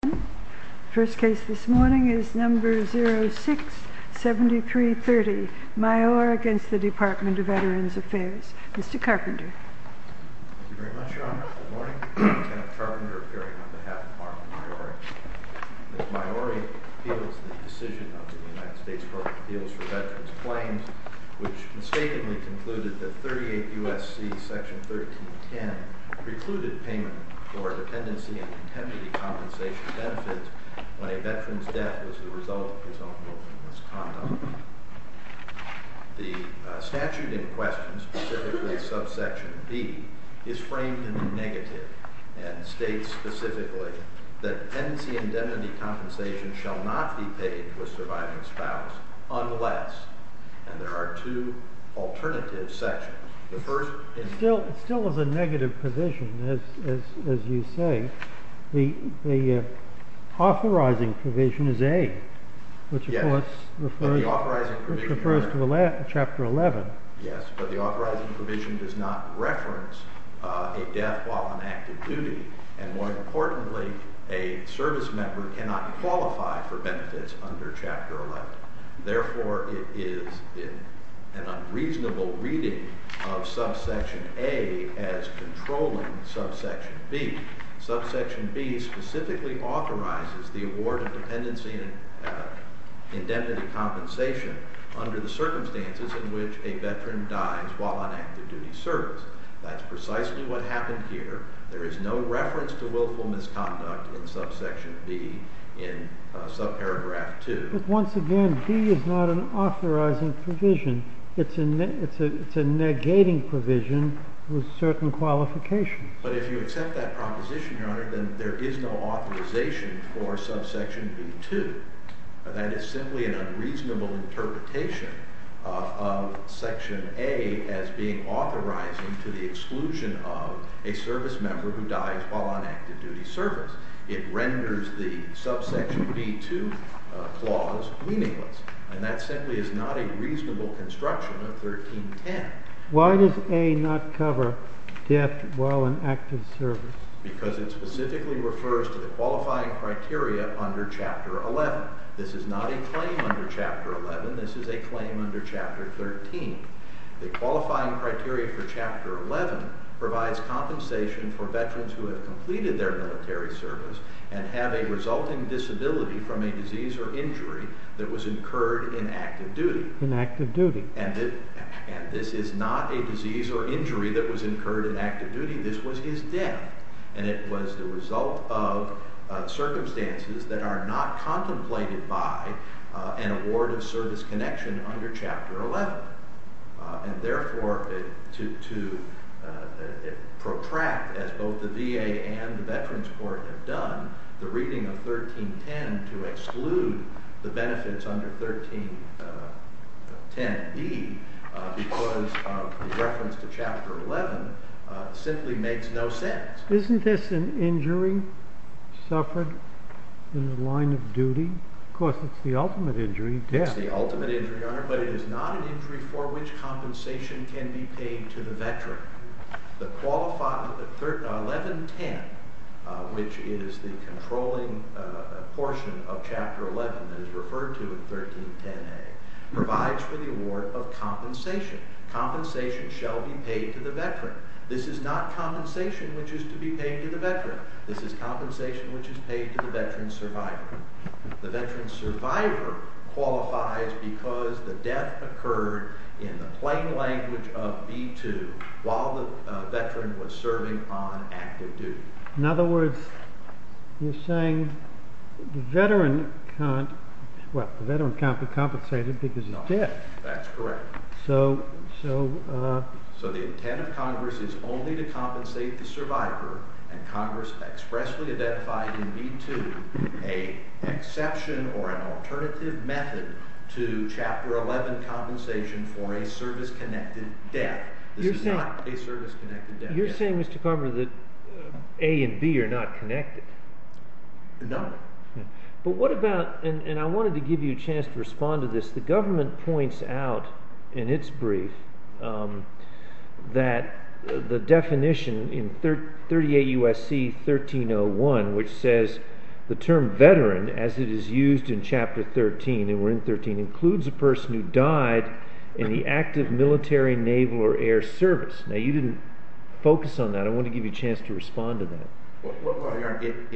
The first case this morning is number 06-7330, Myore v. Department of Veterans Affairs. Mr. Carpenter. Thank you very much, Your Honor. Good morning. Kenneth Carpenter, appearing on behalf of the Department of Myore. Ms. Myore appeals the decision of the United States Court of Appeals for Veterans Claims, which mistakenly concluded that 38 U.S.C. section 1310 precluded payment for dependency and indemnity compensation benefits when a veteran's death was the result of his own willful misconduct. The statute in question, specifically subsection B, is framed in the negative and states specifically that dependency and indemnity compensation shall not be paid to a surviving spouse unless, and there are two alternative sections. It still is a negative provision, as you say. The authorizing provision is A, which of course refers to Chapter 11. Yes, but the authorizing provision does not reference a death while on active duty, and more importantly, a service member cannot qualify for benefits under Chapter 11. Therefore, it is an unreasonable reading of subsection A as controlling subsection B. Subsection B specifically authorizes the award of dependency and indemnity compensation under the circumstances in which a veteran dies while on active duty service. That's precisely what happened here. There is no reference to willful misconduct in subsection B in subparagraph 2. But once again, B is not an authorizing provision. It's a negating provision with certain qualifications. But if you accept that proposition, Your Honor, then there is no authorization for subsection B-2. That is simply an unreasonable interpretation of section A as being authorizing to the exclusion of a service member who dies while on active duty service. It renders the subsection B-2 clause meaningless, and that simply is not a reasonable construction of 1310. Why does A not cover death while on active service? Because it specifically refers to the qualifying criteria under Chapter 11. This is not a claim under Chapter 11. This is a claim under Chapter 13. The qualifying criteria for Chapter 11 provides compensation for veterans who have completed their military service and have a resulting disability from a disease or injury that was incurred in active duty. In active duty. And this is not a disease or injury that was incurred in active duty. This was his death. And it was the result of circumstances that are not contemplated by an award of service connection under Chapter 11. And therefore, to protract, as both the VA and the Veterans Court have done, the reading of 1310 to exclude the benefits under 1310B because of reference to Chapter 11 simply makes no sense. Isn't this an injury suffered in the line of duty? Of course, it's the ultimate injury, death. It's the ultimate injury, Your Honor, but it is not an injury for which compensation can be paid to the veteran. The qualifying, 1110, which is the controlling portion of Chapter 11 that is referred to in 1310A, provides for the award of compensation. Compensation shall be paid to the veteran. This is not compensation which is to be paid to the veteran. This is compensation which is paid to the veteran survivor. The veteran survivor qualifies because the death occurred in the plain language of B2 while the veteran was serving on active duty. In other words, you're saying the veteran can't be compensated because of death. That's correct. So the intent of Congress is only to compensate the survivor, and Congress expressly identified in B2 an exception or an alternative method to Chapter 11 compensation for a service-connected death. This is not a service-connected death. You're saying, Mr. Carpenter, that A and B are not connected. No. But what about—and I wanted to give you a chance to respond to this. The government points out in its brief that the definition in 38 U.S.C. 1301, which says the term veteran as it is used in Chapter 13, and we're in 13, includes a person who died in the active military, naval, or air service. Now, you didn't focus on that. I wanted to give you a chance to respond to that. Well, Your Honor,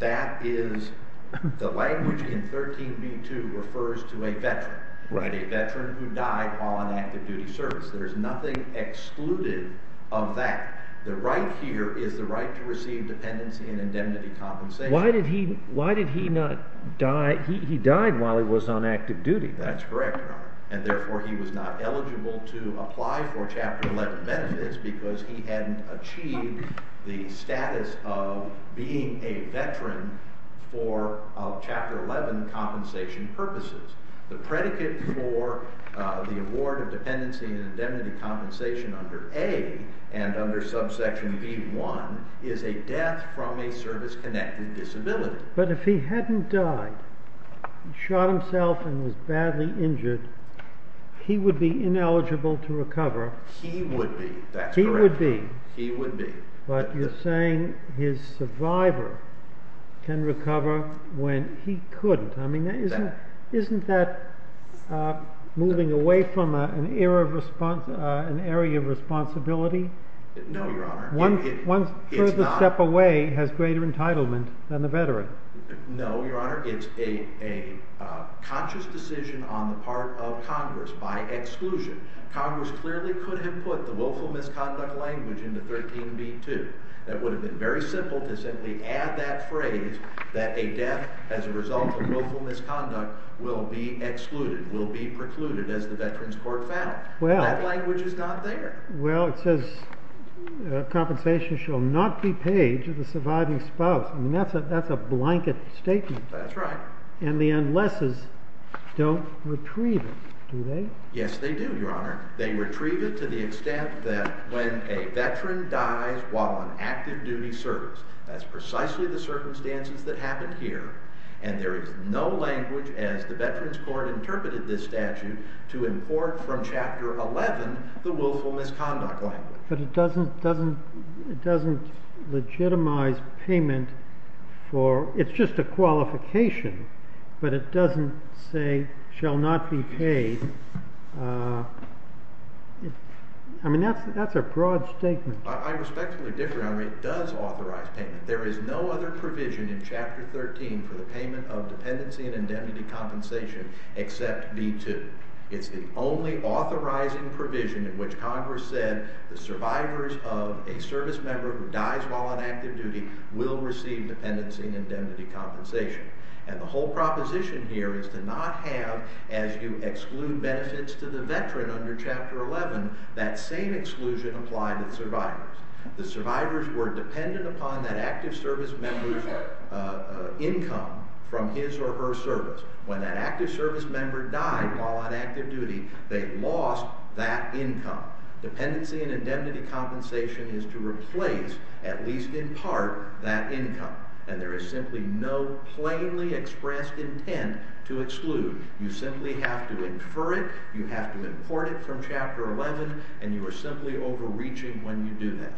that is—the language in 13 B2 refers to a veteran, a veteran who died while on active duty service. There's nothing excluded of that. The right here is the right to receive dependency and indemnity compensation. Why did he not die—he died while he was on active duty. That's correct, Your Honor, and therefore he was not eligible to apply for Chapter 11 benefits because he hadn't achieved the status of being a veteran for Chapter 11 compensation purposes. The predicate for the award of dependency and indemnity compensation under A and under subsection B1 is a death from a service-connected disability. But if he hadn't died, shot himself, and was badly injured, he would be ineligible to recover. He would be. That's correct. He would be. He would be. But you're saying his survivor can recover when he couldn't. I mean, isn't that moving away from an area of responsibility? No, Your Honor. One further step away has greater entitlement than the veteran. No, Your Honor. It's a conscious decision on the part of Congress by exclusion. Congress clearly could have put the willful misconduct language into 13b2. That would have been very simple to simply add that phrase, that a death as a result of willful misconduct will be excluded, will be precluded, as the Veterans Court found. That language is not there. Well, it says compensation shall not be paid to the surviving spouse. I mean, that's a blanket statement. That's right. And the unlesses don't retrieve it, do they? Yes, they do, Your Honor. They retrieve it to the extent that when a veteran dies while on active duty service, that's precisely the circumstances that happened here, and there is no language, as the Veterans Court interpreted this statute, to import from Chapter 11 the willful misconduct language. But it doesn't legitimize payment for, it's just a qualification, but it doesn't say shall not be paid. I mean, that's a broad statement. I respectfully disagree, Your Honor. It does authorize payment. There is no other provision in Chapter 13 for the payment of dependency and indemnity compensation except B2. It's the only authorizing provision in which Congress said the survivors of a service member who dies while on active duty will receive dependency and indemnity compensation. And the whole proposition here is to not have, as you exclude benefits to the veteran under Chapter 11, that same exclusion apply to the survivors. The survivors were dependent upon that active service member's income from his or her service. When that active service member died while on active duty, they lost that income. Dependency and indemnity compensation is to replace, at least in part, that income, and there is simply no plainly expressed intent to exclude. You simply have to infer it. You have to import it from Chapter 11, and you are simply overreaching when you do that.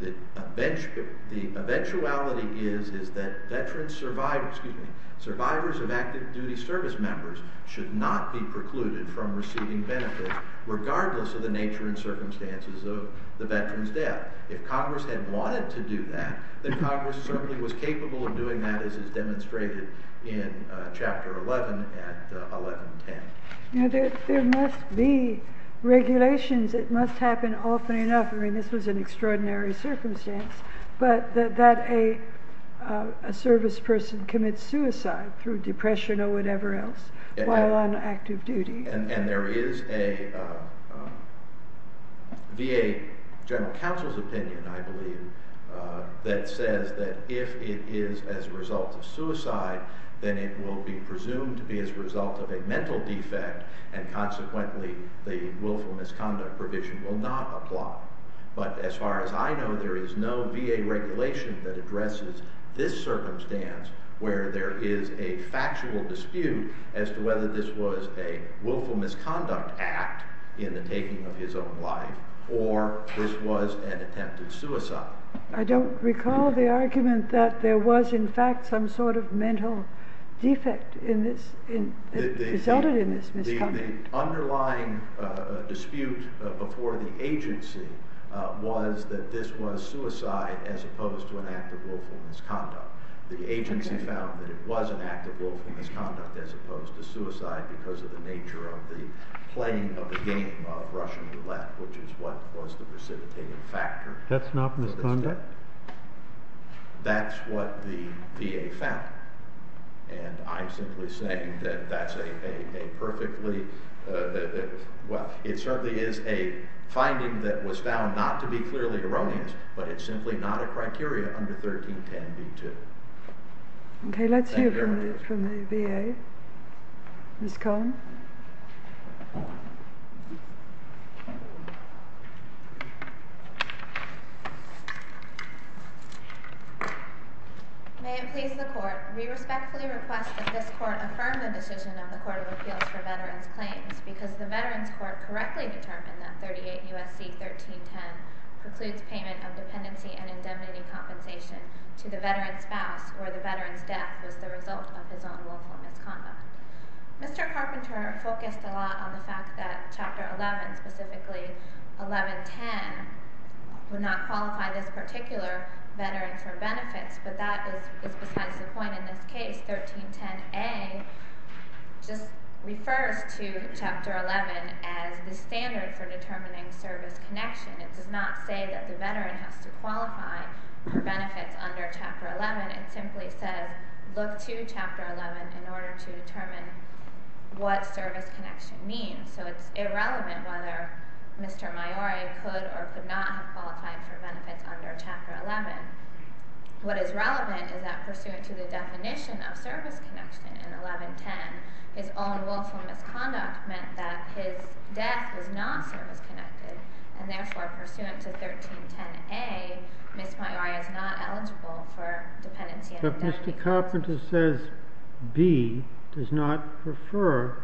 The eventuality is that veterans survive, excuse me, survivors of active duty service members should not be precluded from receiving benefits regardless of the nature and circumstances of the veteran's death. If Congress had wanted to do that, then Congress certainly was capable of doing that, as is demonstrated in Chapter 11 at 1110. There must be regulations. It must happen often enough. I mean, this was an extraordinary circumstance, but that a service person commits suicide through depression or whatever else while on active duty. And there is a VA general counsel's opinion, I believe, that says that if it is as a result of suicide, then it will be presumed to be as a result of a mental defect, and consequently the willful misconduct provision will not apply. But as far as I know, there is no VA regulation that addresses this circumstance where there is a factual dispute as to whether this was a willful misconduct act in the taking of his own life, or this was an attempt at suicide. I don't recall the argument that there was in fact some sort of mental defect that resulted in this misconduct. The underlying dispute before the agency was that this was suicide as opposed to an act of willful misconduct. The agency found that it was an act of willful misconduct as opposed to suicide because of the nature of the playing of the game of Russian roulette, which is what was the precipitating factor. That's not misconduct? That's what the VA found. And I'm simply saying that that's a perfectly— well, it certainly is a finding that was found not to be clearly erroneous, but it's simply not a criteria under 1310b2. Okay, let's hear from the VA. Ms. Cohn? May it please the Court, we respectfully request that this Court affirm the decision of the Court of Appeals for Veterans Claims because the Veterans Court correctly determined that 38 U.S.C. 1310 precludes payment of dependency and indemnity compensation to the veteran's spouse where the veteran's death was the result of his own willful misconduct. Mr. Carpenter focused a lot on the fact that Chapter 11, specifically 1110, would not qualify this particular veteran for benefits, but that is besides the point in this case. 1310a just refers to Chapter 11 as the standard for determining service connection. It does not say that the veteran has to qualify for benefits under Chapter 11. It simply says look to Chapter 11 in order to determine what service connection means. So it's irrelevant whether Mr. Maiori could or could not have qualified for benefits under Chapter 11. What is relevant is that pursuant to the definition of service connection in 1110, his own willful misconduct meant that his death was not service-connected, and therefore pursuant to 1310a, Ms. Maiori is not eligible for dependency and indemnity compensation. But Mr. Carpenter says B does not refer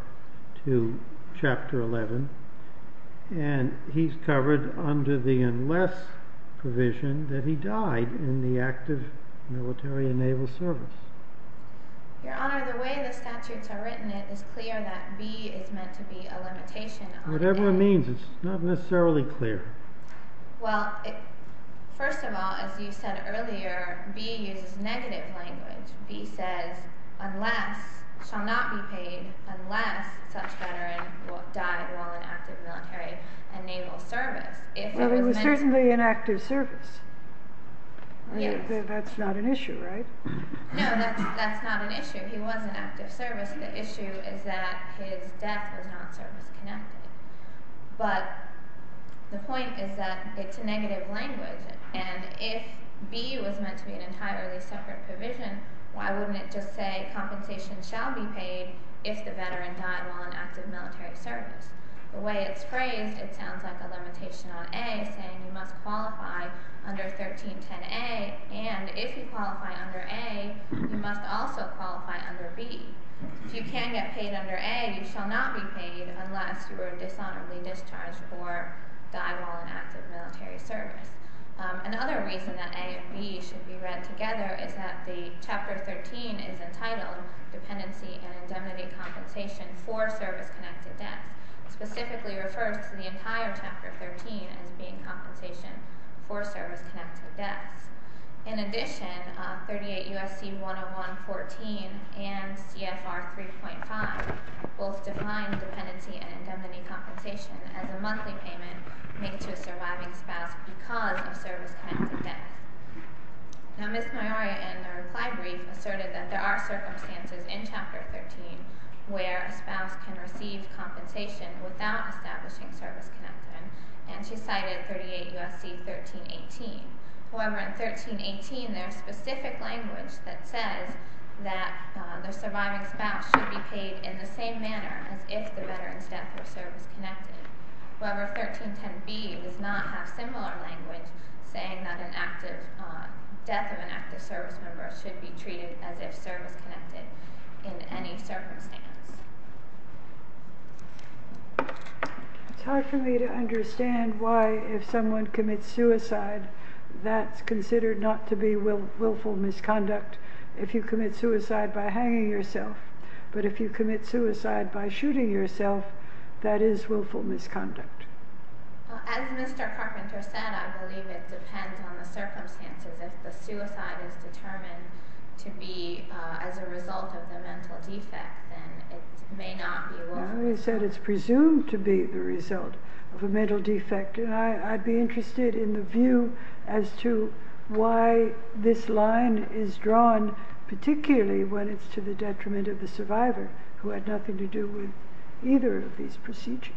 to Chapter 11, and he's covered under the unless provision that he died in the act of military and naval service. Your Honor, the way the statutes are written, it is clear that B is meant to be a limitation. Whatever it means, it's not necessarily clear. Well, first of all, as you said earlier, B uses negative language. B says unless, shall not be paid unless such veteran died while in active military and naval service. Well, he was certainly in active service. Yes. That's not an issue, right? No, that's not an issue. He was in active service. The issue is that his death was not service-connected. But the point is that it's a negative language, and if B was meant to be an entirely separate provision, why wouldn't it just say compensation shall be paid if the veteran died while in active military service? The way it's phrased, it sounds like a limitation on A, saying you must qualify under 1310a, and if you qualify under A, you must also qualify under B. If you can get paid under A, you shall not be paid unless you are dishonorably discharged or died while in active military service. Another reason that A and B should be read together is that the Chapter 13 is entitled Dependency and Indemnity Compensation for Service-Connected Deaths. It specifically refers to the entire Chapter 13 as being compensation for service-connected deaths. In addition, 38 U.S.C. 101.14 and C.F.R. 3.5 both define dependency and indemnity compensation as a monthly payment made to a surviving spouse because of service-connected death. Now, Ms. Maioria, in her reply brief, asserted that there are circumstances in Chapter 13 where a spouse can receive compensation without establishing service-connection, and she cited 38 U.S.C. 1318. However, in 1318, there is specific language that says that the surviving spouse should be paid in the same manner as if the veteran's death was service-connected. However, 1310b does not have similar language saying that the death of an active service member should be treated as if service-connected in any circumstance. It's hard for me to understand why, if someone commits suicide, that's considered not to be willful misconduct if you commit suicide by hanging yourself, but if you commit suicide by shooting yourself, that is willful misconduct. As Mr. Carpenter said, I believe it depends on the circumstances. If the suicide is determined to be as a result of a mental defect, then it may not be willful. You said it's presumed to be the result of a mental defect, and I'd be interested in the view as to why this line is drawn, particularly when it's to the detriment of the survivor who had nothing to do with either of these procedures.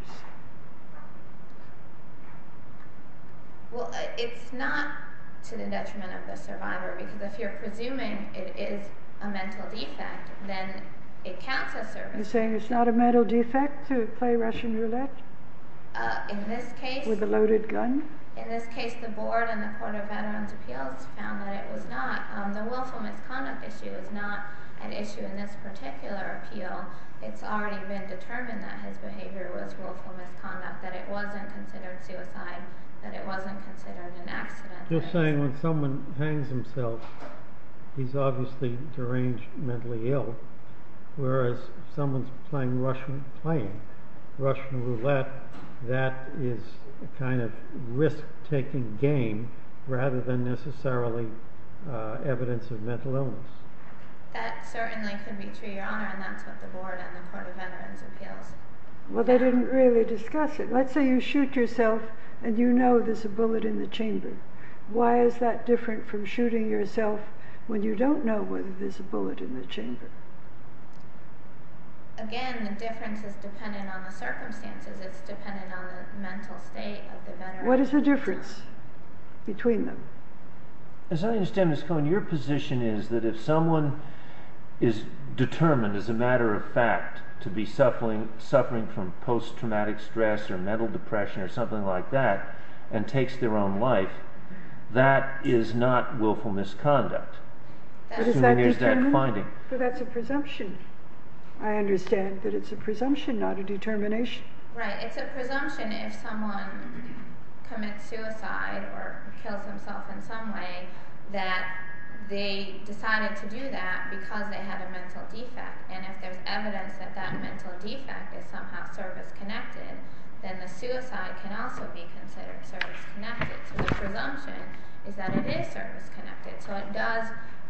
Well, it's not to the detriment of the survivor, because if you're presuming it is a mental defect, then it counts as service. You're saying it's not a mental defect to play Russian roulette with a loaded gun? In this case, the Board and the Court of Veterans' Appeals found that it was not. The willful misconduct issue is not an issue in this particular appeal. It's already been determined that his behavior was willful misconduct, that it wasn't considered suicide, that it wasn't considered an accident. You're saying when someone hangs himself, he's obviously deranged, mentally ill, whereas if someone's playing Russian roulette, that is a kind of risk-taking game rather than necessarily evidence of mental illness. That certainly could be true, Your Honor, and that's what the Board and the Court of Veterans' Appeals found. Again, the difference is dependent on the circumstances. It's dependent on the mental state of the veteran. If someone is determined as a matter of fact to be suffering from post-traumatic stress or mental depression or something like that, and takes their own life, that is not willful misconduct. Does that determine it? That's a presumption. I understand that it's a presumption, not a determination. Right. It's a presumption if someone commits suicide or kills himself in some way that they decided to do that because they had a mental defect, and if there's evidence that that mental defect is somehow service-connected, then the suicide can also be considered service-connected. So the presumption is that it is service-connected. So it does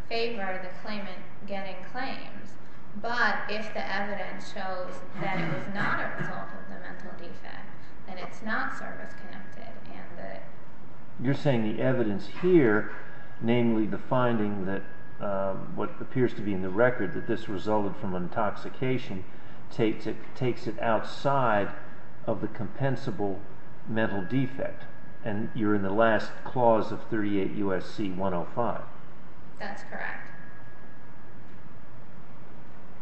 favor the claimant getting claims, but if the evidence shows that it is not a result of the mental defect, then it's not service-connected. You're saying the evidence here, namely the finding that what appears to be in the record that this resulted from intoxication, takes it outside of the compensable mental defect, and you're in the last clause of 38 U.S.C. 105. That's correct.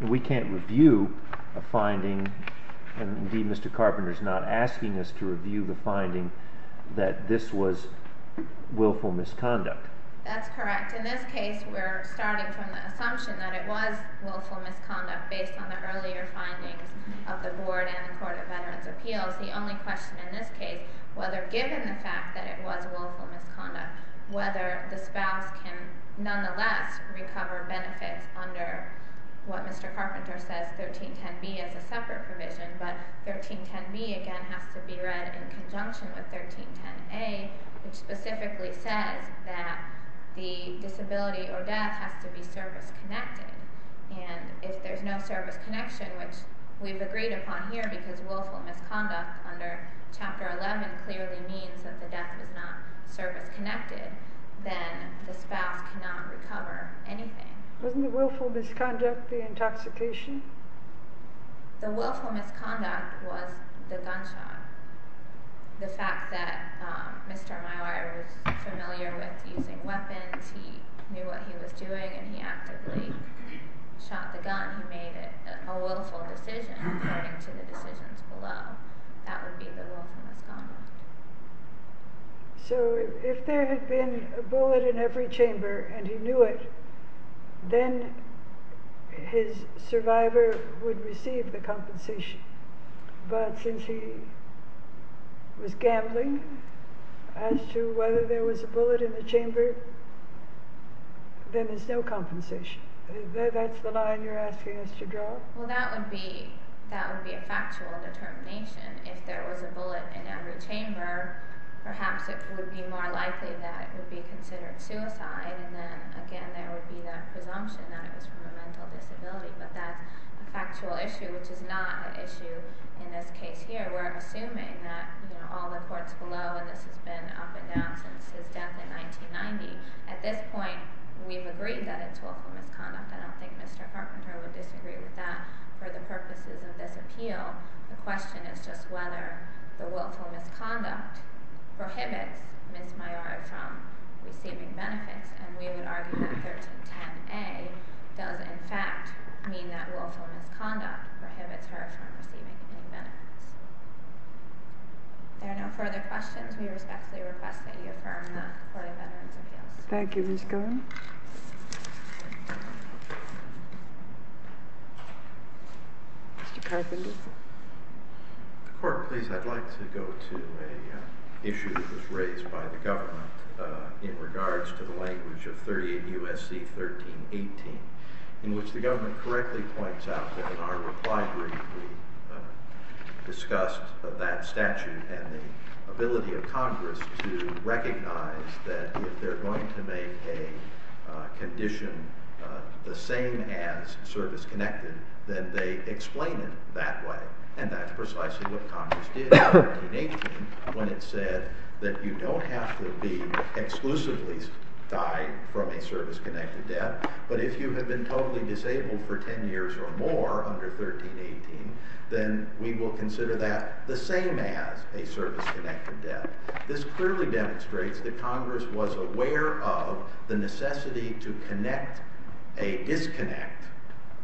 We can't review a finding. Indeed, Mr. Carpenter is not asking us to review the finding that this was willful misconduct. That's correct. In this case, we're starting from the assumption that it was willful misconduct based on the earlier findings of the Board and the Court of Veterans' Appeals. The only question in this case, whether given the fact that it was willful misconduct, whether the spouse can nonetheless recover benefits under what Mr. Carpenter says, 1310B, as a separate provision. But 1310B, again, has to be read in conjunction with 1310A, which specifically says that the disability or death has to be service-connected. And if there's no service connection, which we've agreed upon here because willful misconduct under Chapter 11 clearly means that the death is not service-connected, then the spouse cannot recover anything. Wasn't the willful misconduct the intoxication? The willful misconduct was the gunshot. The fact that Mr. Maillard was familiar with using weapons, he knew what he was doing, and he actively shot the gun. He made a willful decision according to the decisions below. That would be the willful misconduct. So if there had been a bullet in every chamber and he knew it, then his survivor would receive the compensation. But since he was gambling as to whether there was a bullet in the chamber, then there's no compensation. Is that the line you're asking us to draw? Well, that would be a factual determination. If there was a bullet in every chamber, perhaps it would be more likely that it would be considered suicide. And then, again, there would be that presumption that it was from a mental disability. But that's a factual issue, which is not an issue in this case here. We're assuming that all the courts below, and this has been up and down since his death in 1990, at this point we've agreed that it's willful misconduct. I don't think Mr. Carpenter would disagree with that for the purposes of this appeal. The question is just whether the willful misconduct prohibits Ms. Maillard from receiving benefits, and we would argue that 1310A does in fact mean that willful misconduct prohibits her from receiving any benefits. If there are no further questions, we respectfully request that you affirm the Florida Veterans Appeals. Thank you, Ms. Cohen. Mr. Carpenter. The Court, please. I'd like to go to an issue that was raised by the government in regards to the language of 38 U.S.C. 1318, in which the government correctly points out that in our reply brief we discussed that statute and the ability of Congress to recognize that if they're going to make a condition the same as service-connected, then they explain it that way, and that's precisely what Congress did in 1318 when it said that you don't have to be exclusively tied from a service-connected debt, but if you have been totally disabled for 10 years or more under 1318, then we will consider that the same as a service-connected debt. This clearly demonstrates that Congress was aware of the necessity to connect a disconnect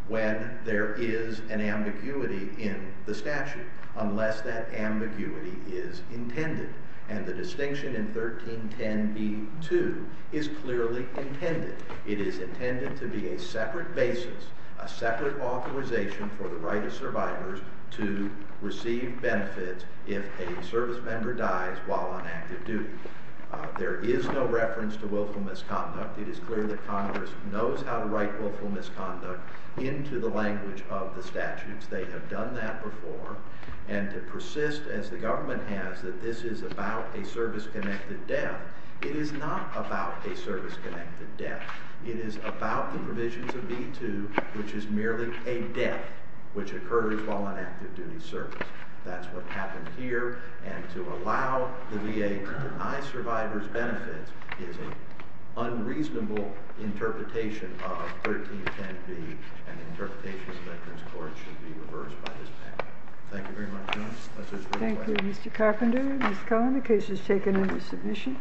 when there is an ambiguity in the statute, unless that ambiguity is intended, and the distinction in 1310B-2 is clearly intended. It is intended to be a separate basis, a separate authorization for the right of survivors to receive benefits if a service member dies while on active duty. There is no reference to willful misconduct. It is clear that Congress knows how to write willful misconduct into the language of the statutes. They have done that before, and to persist, as the government has, that this is about a service-connected debt. It is not about a service-connected debt. It is about the provisions of B-2, which is merely a debt which occurs while on active duty service. That's what happened here, and to allow the VA to deny survivors benefits is an unreasonable interpretation of 1310B, and the interpretation of Veterans Court should be reversed by this panel. Thank you very much. Thank you, Mr. Carpenter. Ms. Cohen, the case is taken into submission.